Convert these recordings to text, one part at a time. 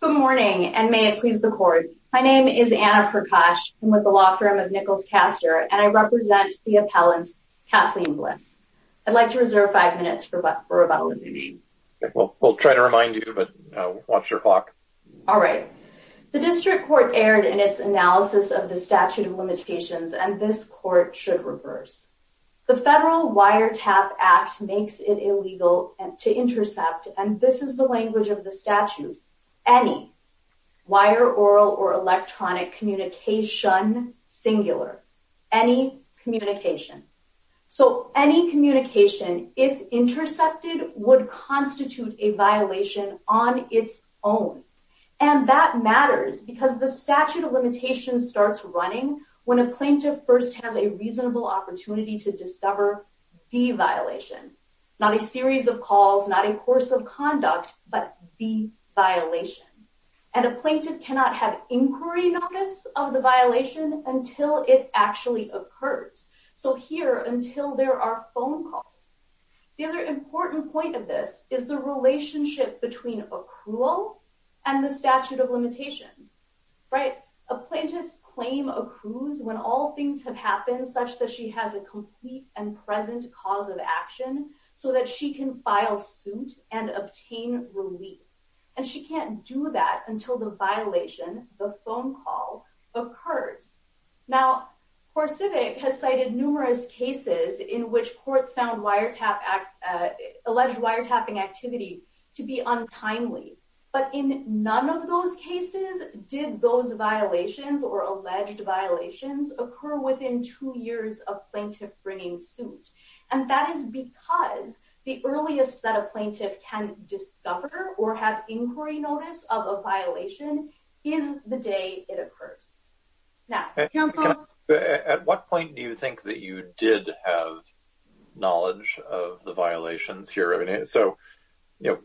Good morning, and may it please the court. My name is Anna Kirkosh. I'm with the law firm of Nichols Castor, and I represent the appellant Kathleen Bliss. I'd like to reserve five minutes for rebuttal. We'll try to remind you, but watch your clock. All right. The district court erred in its analysis of the statute of limitations, and this court should reverse. The Federal Wiretap Act makes it any. Wire, oral, or electronic communication, singular. Any communication. So any communication, if intercepted, would constitute a violation on its own. And that matters because the statute of limitations starts running when a plaintiff first has a reasonable opportunity to discover the violation. Not a series of calls, not a course of conduct, but the violation. And a plaintiff cannot have inquiry notice of the violation until it actually occurs. So here, until there are phone calls. The other important point of this is the relationship between accrual and the statute of limitations. Right? A plaintiff's claim accrues when all things have happened such that she has a so that she can file suit and obtain relief. And she can't do that until the violation, the phone call, occurs. Now, CoreCivic has cited numerous cases in which courts found wiretap, alleged wiretapping activity to be untimely. But in none of those cases did those violations or alleged violations occur within two years of plaintiff bringing suit. And that is because the earliest that a plaintiff can discover or have inquiry notice of a violation is the day it occurs. Now, at what point do you think that you did have knowledge of the violations here? I mean, so, you know,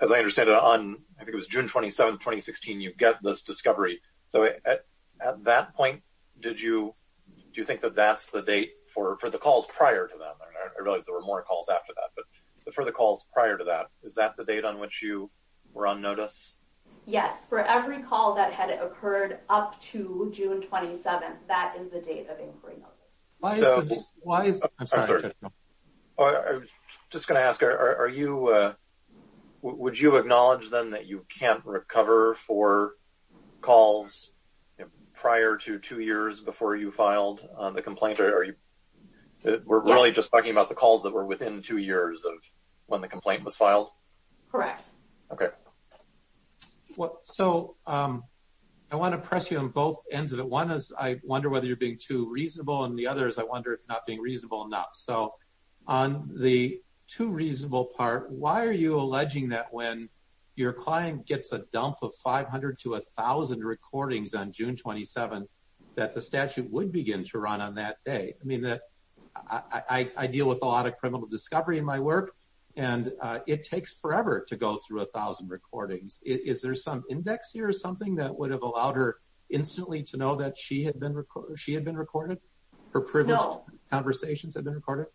as I understand it on, I think it was June 27, 2016, you do you think that that's the date for for the calls prior to that? I realized there were more calls after that. But for the calls prior to that, is that the date on which you were on notice? Yes, for every call that had occurred up to June 27. That is the date of inquiry. Why? I'm just gonna ask, are you? Would you acknowledge them that you can't recover for calls prior to two years before you filed the complaint? Are you? We're really just talking about the calls that were within two years of when the complaint was filed. Correct. Okay. What? So, um, I want to press you on both ends of it. One is I wonder whether you're being too reasonable and the others. I wonder if not being reasonable enough. So on the two reasonable part, why are you alleging that when your client gets a dump of 500 to 1000 recordings on June 27 that the statute would begin to run on that day? I mean, that I deal with a lot of criminal discovery in my work, and it takes forever to go through 1000 recordings. Is there some index here or something that would have allowed her instantly to know that she had been recorded? She had been recorded. Her privileged conversations have been recorded.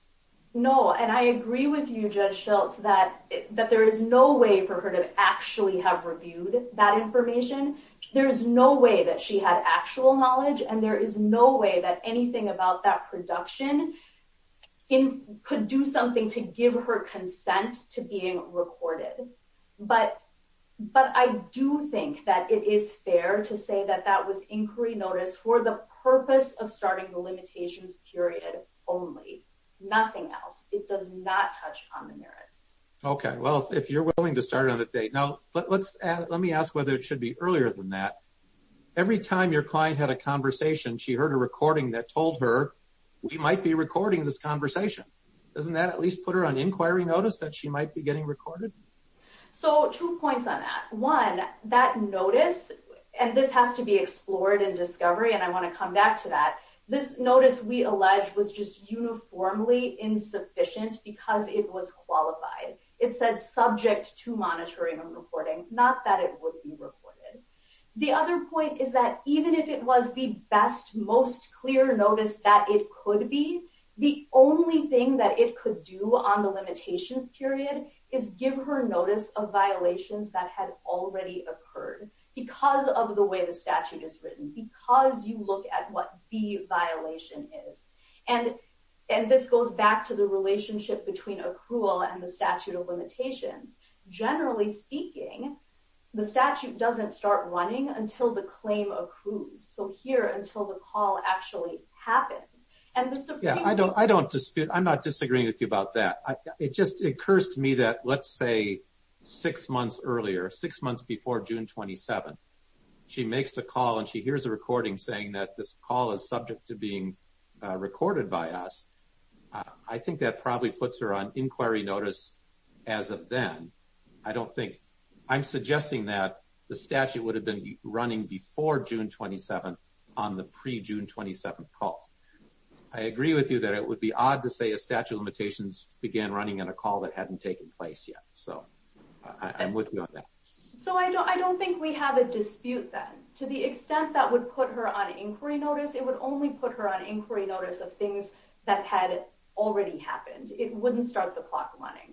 No. And I agree with you, Judge Schultz, that that there is no way for her to actually have reviewed that information. There is no way that she had actual knowledge, and there is no way that anything about that production could do something to give her consent to being recorded. But I do think that it is fair to say that that was inquiry notice for the purpose of starting the limitations period only. Nothing else. It does not touch on the merits. Okay, well, if you're willing to start on the date now, let's let me ask whether it should be earlier than that. Every time your client had a conversation, she heard a recording that told her we might be recording this conversation. Doesn't that at least put her on inquiry notice that she might be getting recorded? So two points on that one, that notice, and this has to be explored in discovery. And I want to come back to that. This notice we alleged was just uniformly insufficient because it was qualified. It said subject to monitoring and reporting, not that it would be recorded. The other point is that even if it was the best, most clear notice that it could be, the only thing that it could do on the limitations period is give her notice of violations that had already occurred because of the way the And, and this goes back to the relationship between accrual and the statute of limitations. Generally speaking, the statute doesn't start running until the claim accrues. So here until the call actually happens. And this, I don't I don't dispute I'm not disagreeing with you about that. It just occurs to me that let's say, six months earlier, six months before June 27. She makes a call and she hears a recording saying that this call is subject to being recorded by us. I think that probably puts her on inquiry notice. As of then, I don't think I'm suggesting that the statute would have been running before June 27. On the pre June 27 calls. I agree with you that it would be odd to say a statute of limitations began running on a call that hadn't taken place yet. So I'm with you on that. So I don't I don't think we have a dispute that to the extent that would put her on inquiry notice, it would only put her on inquiry notice of things that had already happened. It wouldn't start the clock running.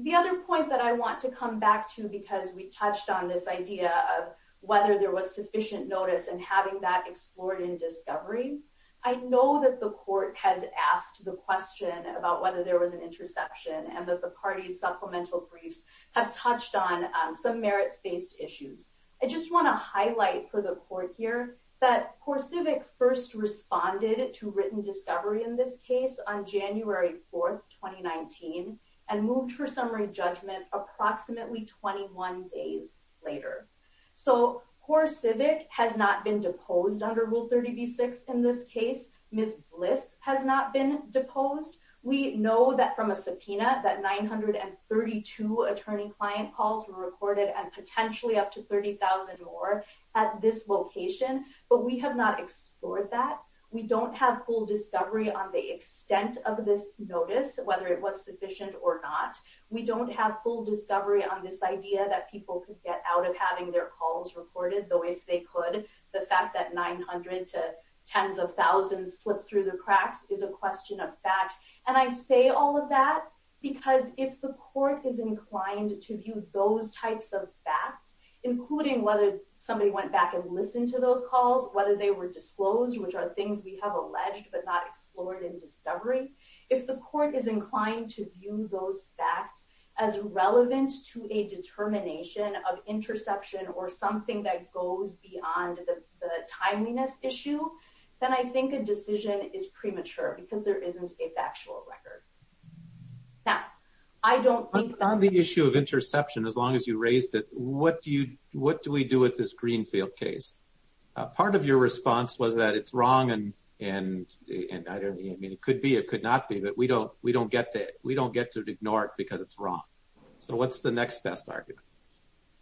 The other point that I want to come back to because we touched on this idea of whether there was sufficient notice and having that explored in discovery. I know that the court has asked the question about whether there was an interception and that the party's supplemental briefs have touched on some merits based issues. I just want to highlight for the court here that poor civic first responded to written discovery in this case on January 4 2019 and moved for summary judgment approximately 21 days later. So poor civic has not been deposed under Rule 30 B six. In this case, Miss Bliss has not been deposed. We know that from a subpoena that 932 attorney client calls were recorded and potentially up to 30,000 more at this location. But we have not explored that. We don't have full discovery on the extent of this notice, whether it was sufficient or not. We don't have full discovery on this idea that people could get out of having their calls recorded, though, if they could. The fact that 900 to tens of thousands slipped through the cracks is a question of fact. And I say all of that because if the court is inclined to view those types of facts, including whether somebody went back and listen to those calls, whether they were disclosed, which are things we have alleged but not explored in discovery. If the court is inclined to view those facts as relevant to a determination of interception or something that goes beyond the timeliness issue, then I think a decision is premature because there Now, I don't think on the issue of interception, as long as you raised it, what do you what do we do with this Greenfield case? Part of your response was that it's wrong. And, and I don't mean it could be it could not be that we don't we don't get that we don't get to ignore it because it's wrong. So what's the next best argument?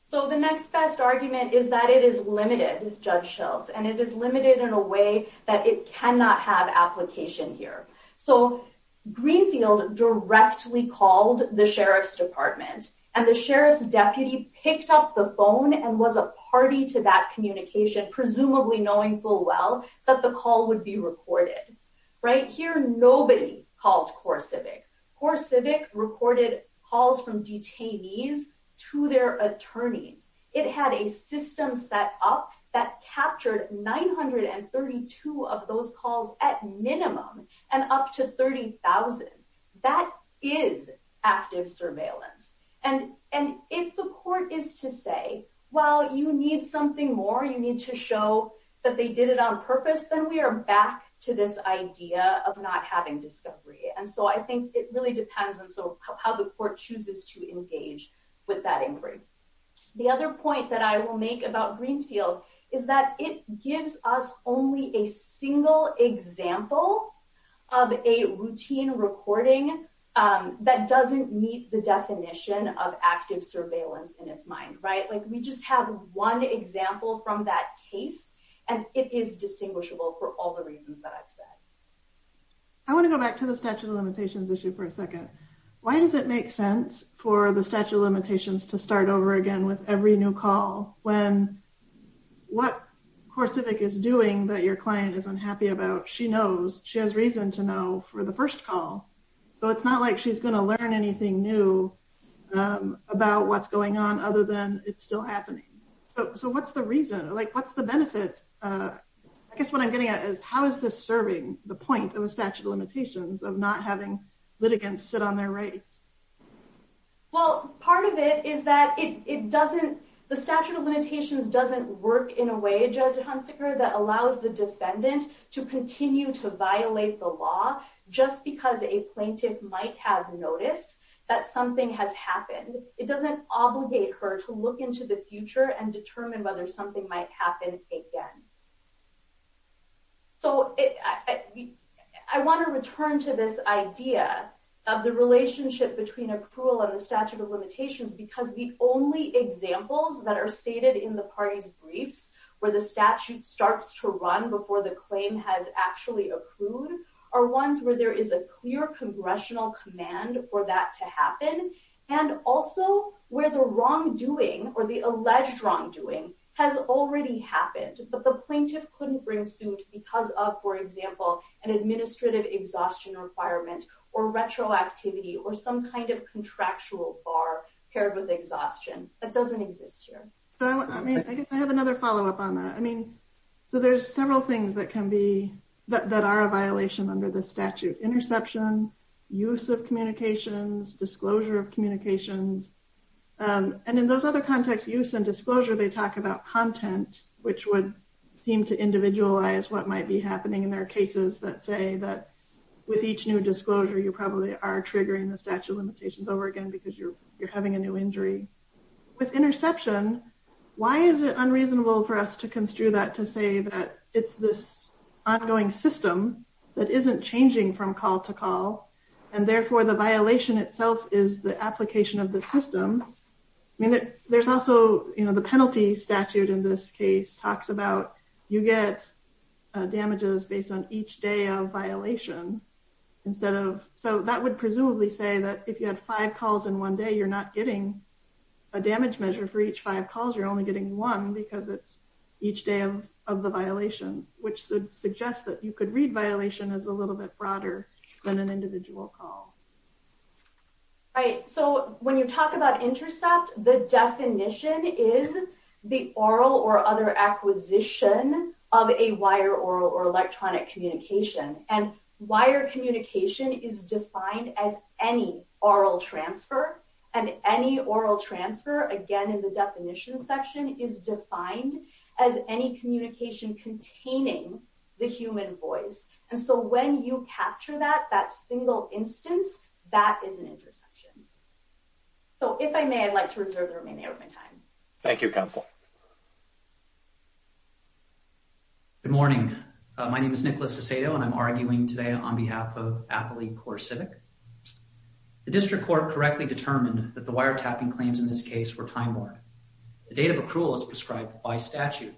So the next best argument is that it is limited, Judge Schultz, and it is that it cannot have application here. So Greenfield directly called the sheriff's department, and the sheriff's deputy picked up the phone and was a party to that communication, presumably knowing full well that the call would be recorded. Right here, nobody called CoreCivic. CoreCivic recorded calls from detainees to their attorneys. It had a system set up that captured 930 to have those calls at minimum, and up to 30,000. That is active surveillance. And, and if the court is to say, well, you need something more, you need to show that they did it on purpose, then we are back to this idea of not having discovery. And so I think it really depends on so how the court chooses to engage with that inquiry. The other point that I will make about it is that there is not really a single example of a routine recording that doesn't meet the definition of active surveillance in its mind, right? Like we just have one example from that case. And it is distinguishable for all the reasons that I've said. I want to go back to the statute of limitations issue for a second. Why does it make sense for the statute of limitations to start over again with every new call when what CoreCivic is doing that your client is unhappy about, she knows, she has reason to know for the first call. So it's not like she's going to learn anything new about what's going on other than it's still happening. So what's the reason? Like, what's the benefit? I guess what I'm getting at is how is this serving the point of a statute of limitations of not having litigants sit on their rights? Well, part of it is that it doesn't, the statute of limitations doesn't work in a way, Judge Hunsaker, that allows the defendant to continue to violate the law just because a plaintiff might have noticed that something has happened. It doesn't obligate her to look into the future and determine whether something might happen again. So I want to return to this idea of the relationship between approval and the statute of limitations because the only examples that are stated in the party's briefs where the statute starts to run before the claim has actually accrued are ones where there is a clear congressional command for that to happen and also where the wrongdoing or the alleged wrongdoing has already happened, but the plaintiff couldn't bring suit because of, for example, an administrative exhaustion requirement or retroactivity or some kind of contractual bar paired with exhaustion. That doesn't exist here. So I mean, I guess I have another follow up on that. I mean, so there's several things that can be, that are a violation under the statute, interception, use of communications, disclosure of communications. And in those other context use and disclosure, they talk about content, which would seem to individualize what might be happening in their cases that say that with each new disclosure, you probably are triggering the statute of limitations over again because you're having a new injury. With interception, why is it unreasonable for us to construe that to say that it's this ongoing system that isn't changing from call to call, and therefore the violation itself is the application of the system. I mean, there's also, you know, the penalty statute in this case talks about, you get damages based on each day of violation, instead of, so that would presumably say that if you had five calls in one day, you're not getting a damage measure for each five calls, you're only getting one because it's each day of the violation, which suggests that you could read violation as a little bit broader than an individual call. All right, so when you talk about intercept, the definition is the oral or other acquisition of a wire, oral, or electronic communication. And wire communication is defined as any oral transfer, and any oral transfer, again in the definition section, is defined as any communication containing the human voice. And so when you capture that, that single instance, that is an interception. So if I may, I'd like to reserve the remainder of my time. Thank you, counsel. Good morning. My name is Nicholas Acedo, and I'm arguing today on behalf of Appley Corps Civic. The district court correctly determined that the wire tapping claims in this case were time-worn. The date of accrual is prescribed by statute.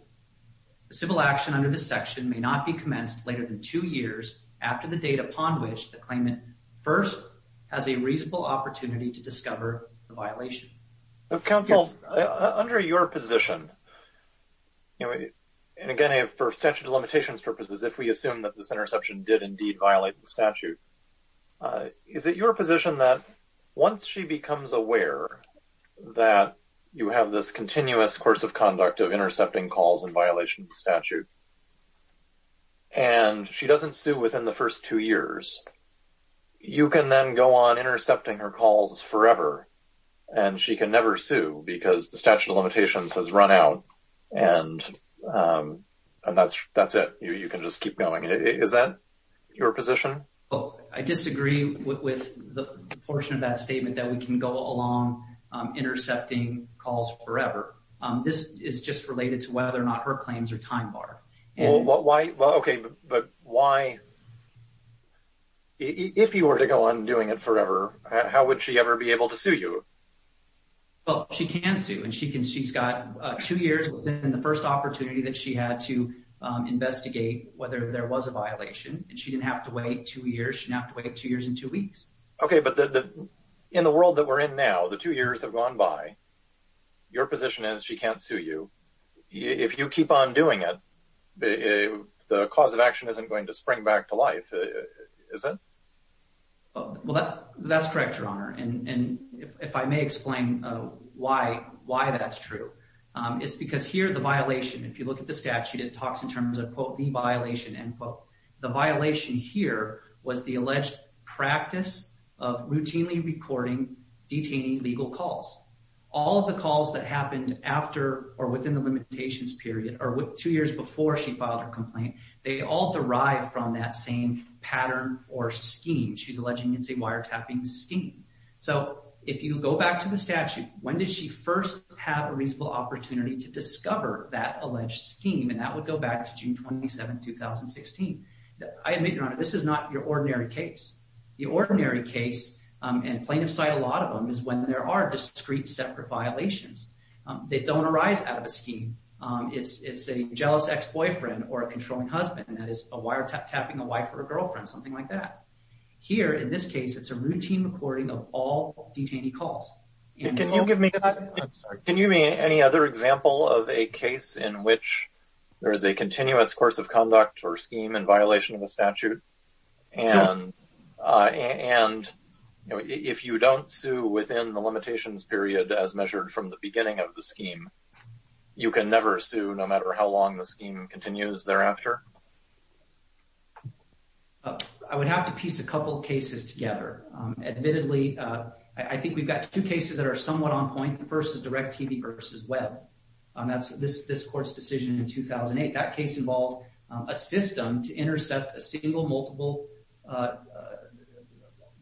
The civil action under this section may not be commenced later than two years after the date upon which the claimant first has a reasonable opportunity to discover the violation. Counsel, under your position, and again for statute of limitations purposes, if we assume that this interception did indeed violate the statute, is it your position that once she becomes aware that you have this continuous course of conduct of intercepting calls in violation of the statute, and she doesn't sue within the first two years, you can then go on intercepting her calls forever, and she can never sue because the statute of limitations has run out, and that's it. You can just keep going. Is that your position? Well, I disagree with the portion of that statement that we can go along intercepting calls forever. This is just related to whether or not her claims are time-barred. Well, why? Okay, but why? If you were to go on doing it forever, how would she ever be able to sue you? Well, she can sue, and she's got two years within the first opportunity that she had to investigate whether there was a violation, and she didn't have to wait two years. She didn't have to wait two years and two weeks. Okay, but in the world that we're in now, the two years have gone by. Your position is she can't sue you. If you keep on doing it, the cause of action isn't going to spring back to life, is it? Well, that's correct, Your Honor, and if I may explain why that's true, it's because here the violation, if you look at the statute, it talks in terms of, quote, the violation, end quote. The violation here was the alleged practice of routinely recording detainee legal calls. All of the calls that happened after or within the limitations period or two years before she filed her complaint, they all derive from that same pattern or scheme. She's alleging it's a wiretapping scheme. So if you go back to the statute, when did she first have a reasonable opportunity to discover that alleged scheme? And that would go back to June 27, 2016. I admit, Your Honor, this is not your ordinary case. The ordinary case, and plaintiffs cite a lot of them, is when there are discrete separate violations. They don't arise out of a scheme. It's a jealous ex-boyfriend or a controlling husband, and that is a wiretapping, a wife or a girlfriend, something like that. Here, in this case, it's a routine recording of all detainee calls. Can you give me any other example of a case in which there is a continuous course of conduct or scheme in violation of a statute? And if you don't sue within the limitations period as measured from the beginning of the scheme, you can never sue no matter how long the scheme continues thereafter? I would have to piece a couple of cases together. Admittedly, I think we've got two cases that are somewhat on point. The first is DIRECTV v. Webb. That's this court's decision in 2008. That case involved a system to intercept a single multiple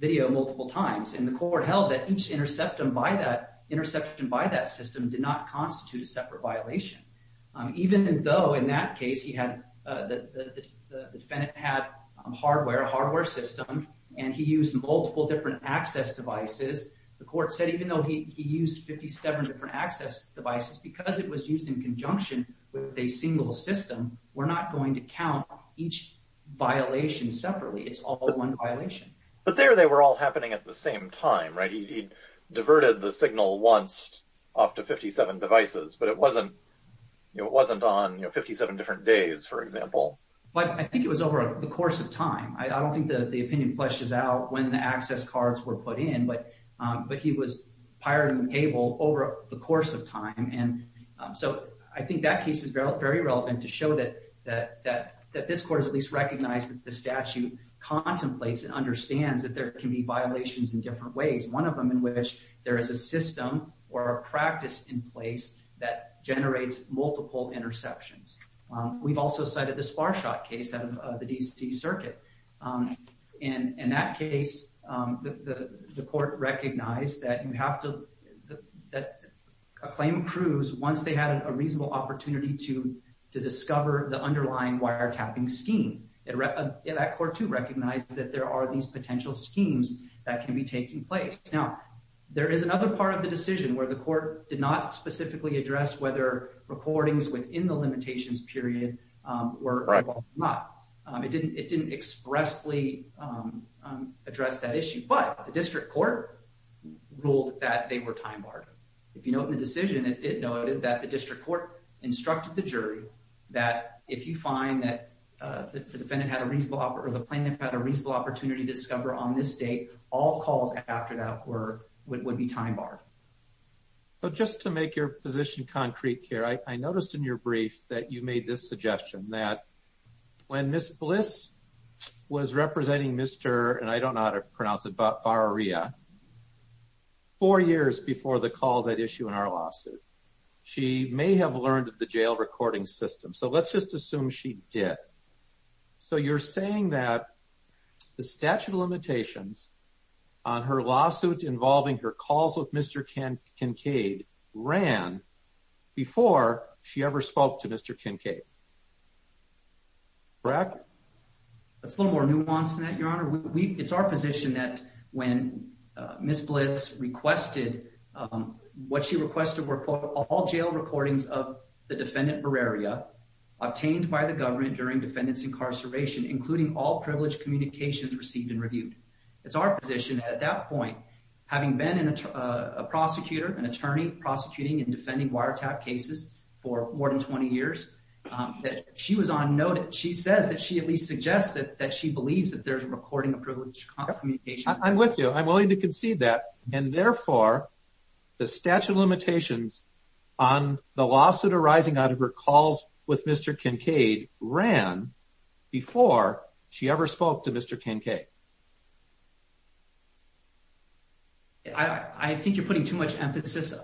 video multiple times, and the court held that each interception by that system did not constitute a separate violation. Even though, in that case, the defendant had hardware, a hardware device, access devices, the court said even though he used 57 different access devices, because it was used in conjunction with a single system, we're not going to count each violation separately. It's all one violation. But there they were all happening at the same time, right? He diverted the signal once off to 57 devices, but it wasn't on 57 different days, for example. But I think it was over the course of time. I don't think that the opinion fleshes out when the access cards were put in, but he was pirating the cable over the course of time. So I think that case is very relevant to show that this court has at least recognized that the statute contemplates and understands that there can be violations in different ways, one of them in which there is a system or a practice in place that generates multiple interceptions. We've also cited the Sparshot case out of the DC Circuit. In that case, the court recognized that a claim accrues once they had a reasonable opportunity to discover the underlying wiretapping scheme. That court, too, recognized that there are these potential schemes that can be taking place. Now, there is another part of the decision where the court did not specifically address whether recordings within the limitations period were involved or not. It didn't expressly address that issue, but the District Court ruled that they were time barred. If you note in the decision, it noted that the District Court instructed the jury that if you find that the defendant had a reasonable opportunity or the plaintiff had a reasonable opportunity to discover on this date, all calls after that would be time barred. Just to make your position concrete, I noticed in your brief that you made this suggestion that when Ms. Bliss was representing Mr. Bar-Aria four years before the calls that issue in our lawsuit, she may have learned of the jail recording system. So let's just assume she did. So you're saying that the statute of limitations on her lawsuit involving her calls with Mr. Kincaid ran before she ever spoke to Mr. Kincaid. Correct? That's a little more nuanced than that, Your Honor. It's our position that when Ms. Bliss requested, what she requested were all jail recordings of the defendant Bar-Aria obtained by the government during defendant's incarceration, including all privileged communications received and reviewed. It's our position at that point, having been a prosecutor, an attorney prosecuting and defending wiretap cases for more than 20 years, that she was on noted. She says that she at least suggests that she believes that there's recording of privileged communications. I'm with you. I'm willing to concede that. And therefore, the statute of limitations on the lawsuit arising out of her calls with Mr. Kincaid ran before she ever spoke to Mr. Kincaid. I think you're putting too much emphasis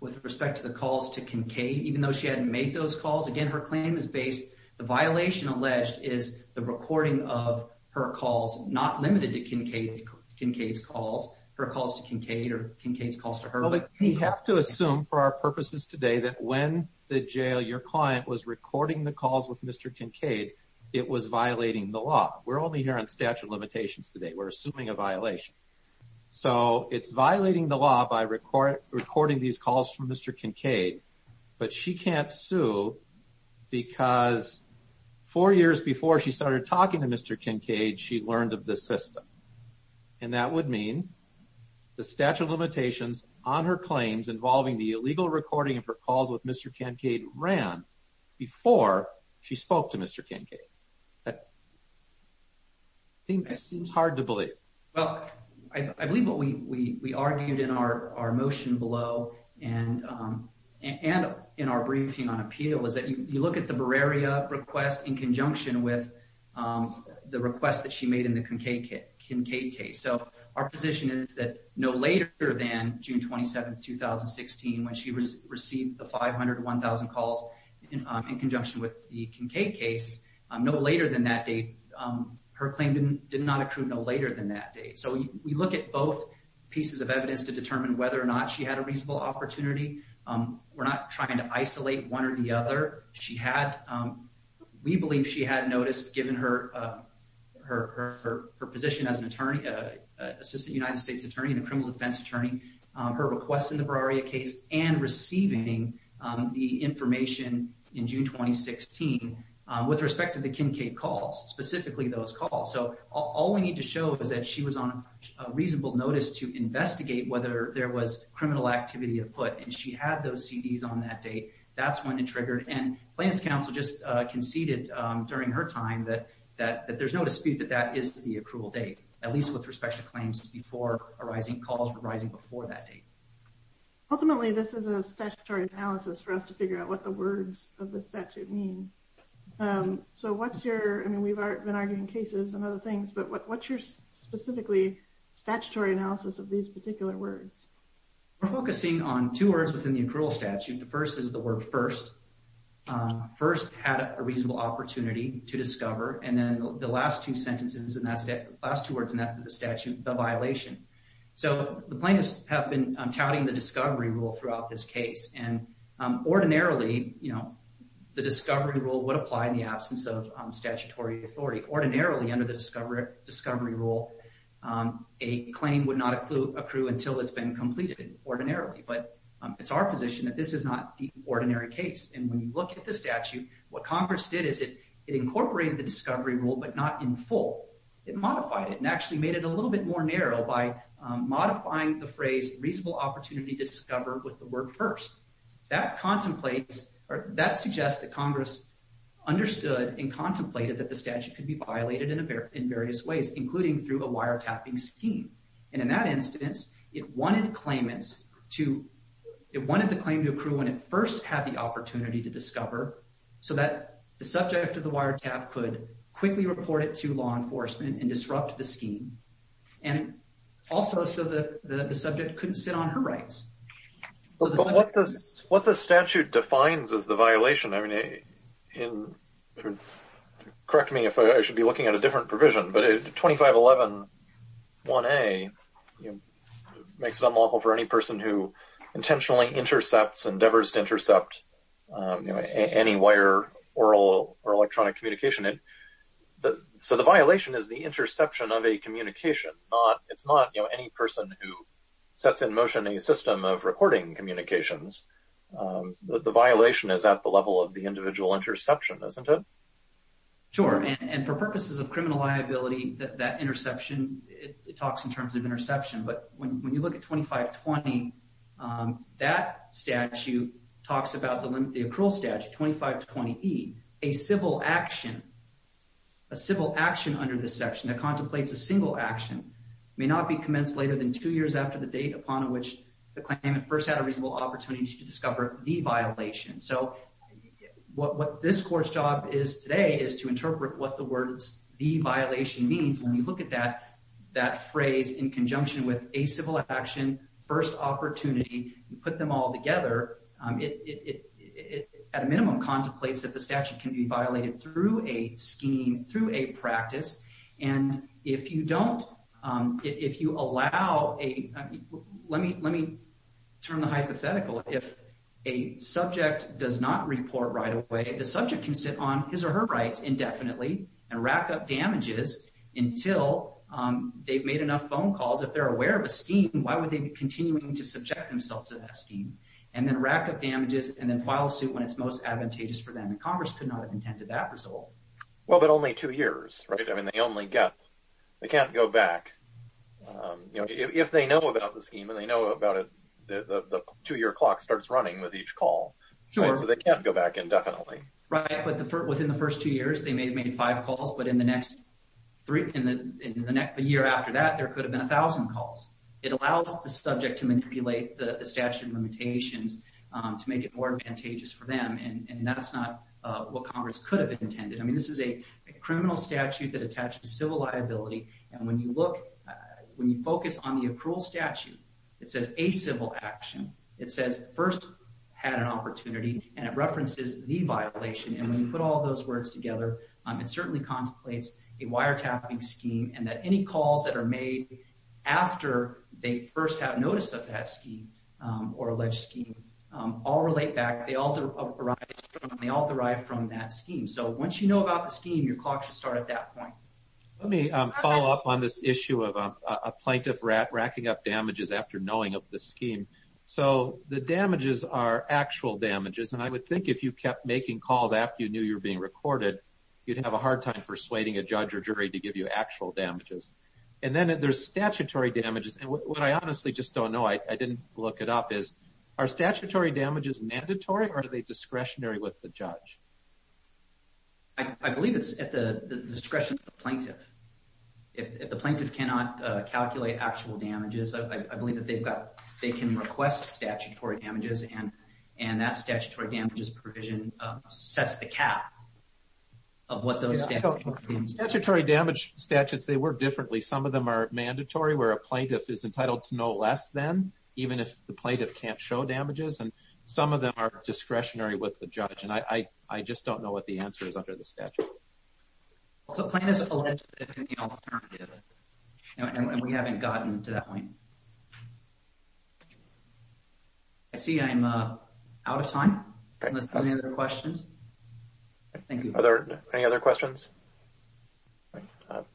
with respect to the calls to Kincaid, even though she had made those calls again. Her claim is based. The violation alleged is the recording of her calls, not limited to Kincaid's calls, her calls to Kincaid or Kincaid's calls to her. We have to assume for our purposes today that when the jail your client was recording the calls with Mr. Kincaid, it was violating the law. We're only here on statute of limitations today. We're assuming a violation, so it's violating the law by recording these calls from Mr. Kincaid. But she can't sue because four years before she started talking to Mr. Kincaid, she learned of the system, and that would mean the statute of limitations on her claims involving the illegal recording of her calls with Mr. Kincaid ran before she spoke to Mr. Kincaid. I think this seems hard to believe. Well, I believe what we argued in our motion below and in our briefing on appeal is that you look at the Bereria request in conjunction with the request that she made in the Kincaid case. So our position is that no later than June 27, 2016, when she was receiving the 500 to 1,000 calls in conjunction with the Kincaid case, no later than that date, her claim did not accrue no later than that date. So we look at both pieces of evidence to determine whether or not she had a reasonable opportunity. We're not trying to isolate one or the other. She had, we believe she had noticed, given her position as an attorney, Assistant United States Attorney and a criminal defense attorney, her request in the case of Mr. Kincaid for receiving the information in June 2016 with respect to the Kincaid calls, specifically those calls. So all we need to show is that she was on a reasonable notice to investigate whether there was criminal activity afoot, and she had those CDs on that date. That's when it triggered, and Plans Council just conceded during her time that there's no dispute that that is the accrual date, at least with respect to claims before arising, calls arising before that date. Ultimately, this is a statutory analysis for us to figure out what the words of the statute mean. So what's your, I mean we've been arguing cases and other things, but what's your specifically statutory analysis of these particular words? We're focusing on two words within the accrual statute. The first is the word first. First, had a reasonable opportunity to discover, and then the last two sentences, the last two words in the statute, the violation. So the plaintiffs have been touting the discovery rule throughout this case, and ordinarily, you know, the discovery rule would apply in the absence of statutory authority. Ordinarily, under the discovery rule, a claim would not accrue until it's been completed, ordinarily. But it's our position that this is not the ordinary case, and when you look at the statute, what Congress did is it incorporated the discovery rule, but not in full. It modified it and actually made it a little bit more narrow by modifying the phrase reasonable opportunity to discover with the word first. That contemplates, or that suggests that Congress understood and contemplated that the statute could be violated in various ways, including through a wiretapping scheme. And in that instance, it wanted claimants to, it wanted the claim to accrue when it first had the opportunity to discover, so that the wiretap could quickly report it to law enforcement and disrupt the scheme. And also so that the subject couldn't sit on her rights. But what the statute defines as the violation, I mean, correct me if I should be looking at a different provision, but 2511 1a makes it unlawful for any person who intentionally intercepts, endeavors to intercept, you know, any wire or electronic communication. So the violation is the interception of a communication. It's not, you know, any person who sets in motion a system of recording communications. The violation is at the level of the individual interception, isn't it? Sure, and for purposes of criminal liability, that interception, it talks in terms of interception, but when you look at 2520, that statute talks about the limit, the accrual statute, 2520e, a civil action, a civil action under this section that contemplates a single action may not be commenced later than two years after the date upon which the claimant first had a reasonable opportunity to discover the violation. So what this court's job is today is to interpret what the words the violation means. When you look at that, that phrase in conjunction with a civil action, first opportunity, you put them all together, it at a minimum contemplates that the statute can be violated through a scheme, through a practice. And if you don't, if you allow a, let me, let me turn the hypothetical. If a subject does not report right away, the subject can sit on his or her rights indefinitely and rack up damages until they've made enough phone calls. If they're aware of a scheme, why would they be continuing to subject themselves to that scheme? And then rack up damages and then file suit when it's most advantageous for them. Congress could not have intended that result. Well, but only two years, right? I mean, they only get, they can't go back, you know, if they know about the scheme and they know about it, the two-year clock starts running with each call. Sure. So they can't go back indefinitely. Right, but within the first two years, they may have made five calls, but in the next three, in the, in the next, the year after that, there could have been a thousand calls. It allows the subject to manipulate the statute limitations to make it more advantageous for them. And that's not what Congress could have intended. I mean, this is a criminal statute that attaches to civil liability. And when you look, when you focus on the accrual statute, it says a civil action. It says first had an opportunity and it references the other. It certainly contemplates a wiretapping scheme and that any calls that are made after they first have notice of that scheme or alleged scheme all relate back. They all derive from that scheme. So once you know about the scheme, your clock should start at that point. Let me follow up on this issue of a plaintiff racking up damages after knowing of the scheme. So the damages are actual damages. And I would think if you kept making calls after you were being recorded, you'd have a hard time persuading a judge or jury to give you actual damages. And then there's statutory damages. And what I honestly just don't know, I didn't look it up, is our statutory damages mandatory or are they discretionary with the judge? I believe it's at the discretion of the plaintiff. If the plaintiff cannot calculate actual damages, I believe that they've got, they can request statutory damages and, and that statutory damages provision sets the cap of what those... Statutory damage statutes, they work differently. Some of them are mandatory where a plaintiff is entitled to know less than, even if the plaintiff can't show damages. And some of them are discretionary with the judge. And I, I just don't know what the answer is under the statute. The plaintiff is eligible for the alternative. And we haven't gotten to that point. I see I'm out of time. Any other questions? Thank you. Are there any other questions?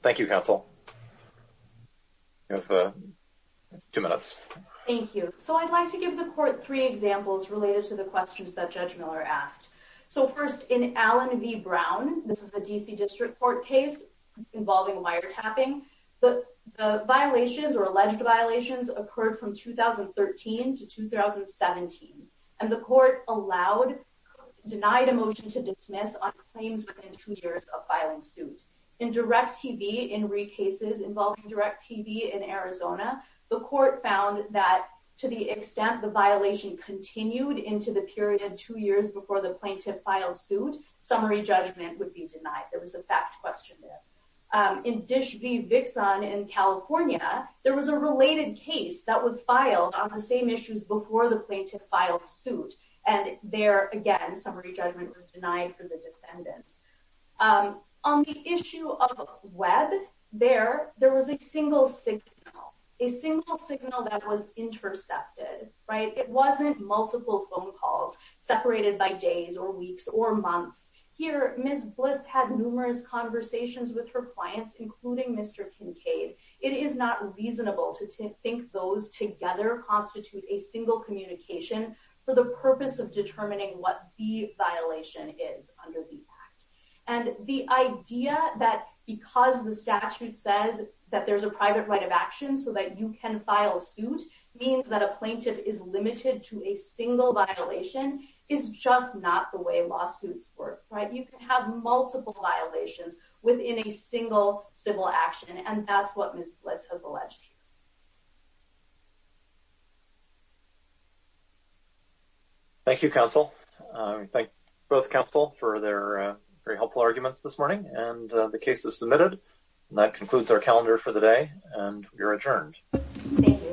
Thank you, counsel. You have two minutes. Thank you. So I'd like to give the court three examples related to the questions that Judge Miller asked. So first, in Allen v. Brown, this is a DC District Court case involving wiretapping. The violations or occurred from 2013 to 2017. And the court allowed, denied a motion to dismiss on claims within two years of filing suit. In Direct TV, in re-cases involving Direct TV in Arizona, the court found that to the extent the violation continued into the period two years before the plaintiff filed suit, summary judgment would be denied. There was a fact question there. In Dish v. Vixon in that was filed on the same issues before the plaintiff filed suit. And there again, summary judgment was denied for the defendant. On the issue of Webb, there, there was a single signal, a single signal that was intercepted, right? It wasn't multiple phone calls separated by days or weeks or months. Here, Ms. Bliss had numerous conversations with her clients, including Mr. Kincaid. It is not reasonable to think those together constitute a single communication for the purpose of determining what the violation is under the act. And the idea that because the statute says that there's a private right of action so that you can file suit means that a plaintiff is limited to a single violation is just not the way lawsuits work, right? You can multiple violations within a single civil action, and that's what Ms. Bliss has alleged. Thank you, Counsel. Thank both counsel for their very helpful arguments this morning, and the case is submitted. That concludes our calendar for the day, and you're adjourned.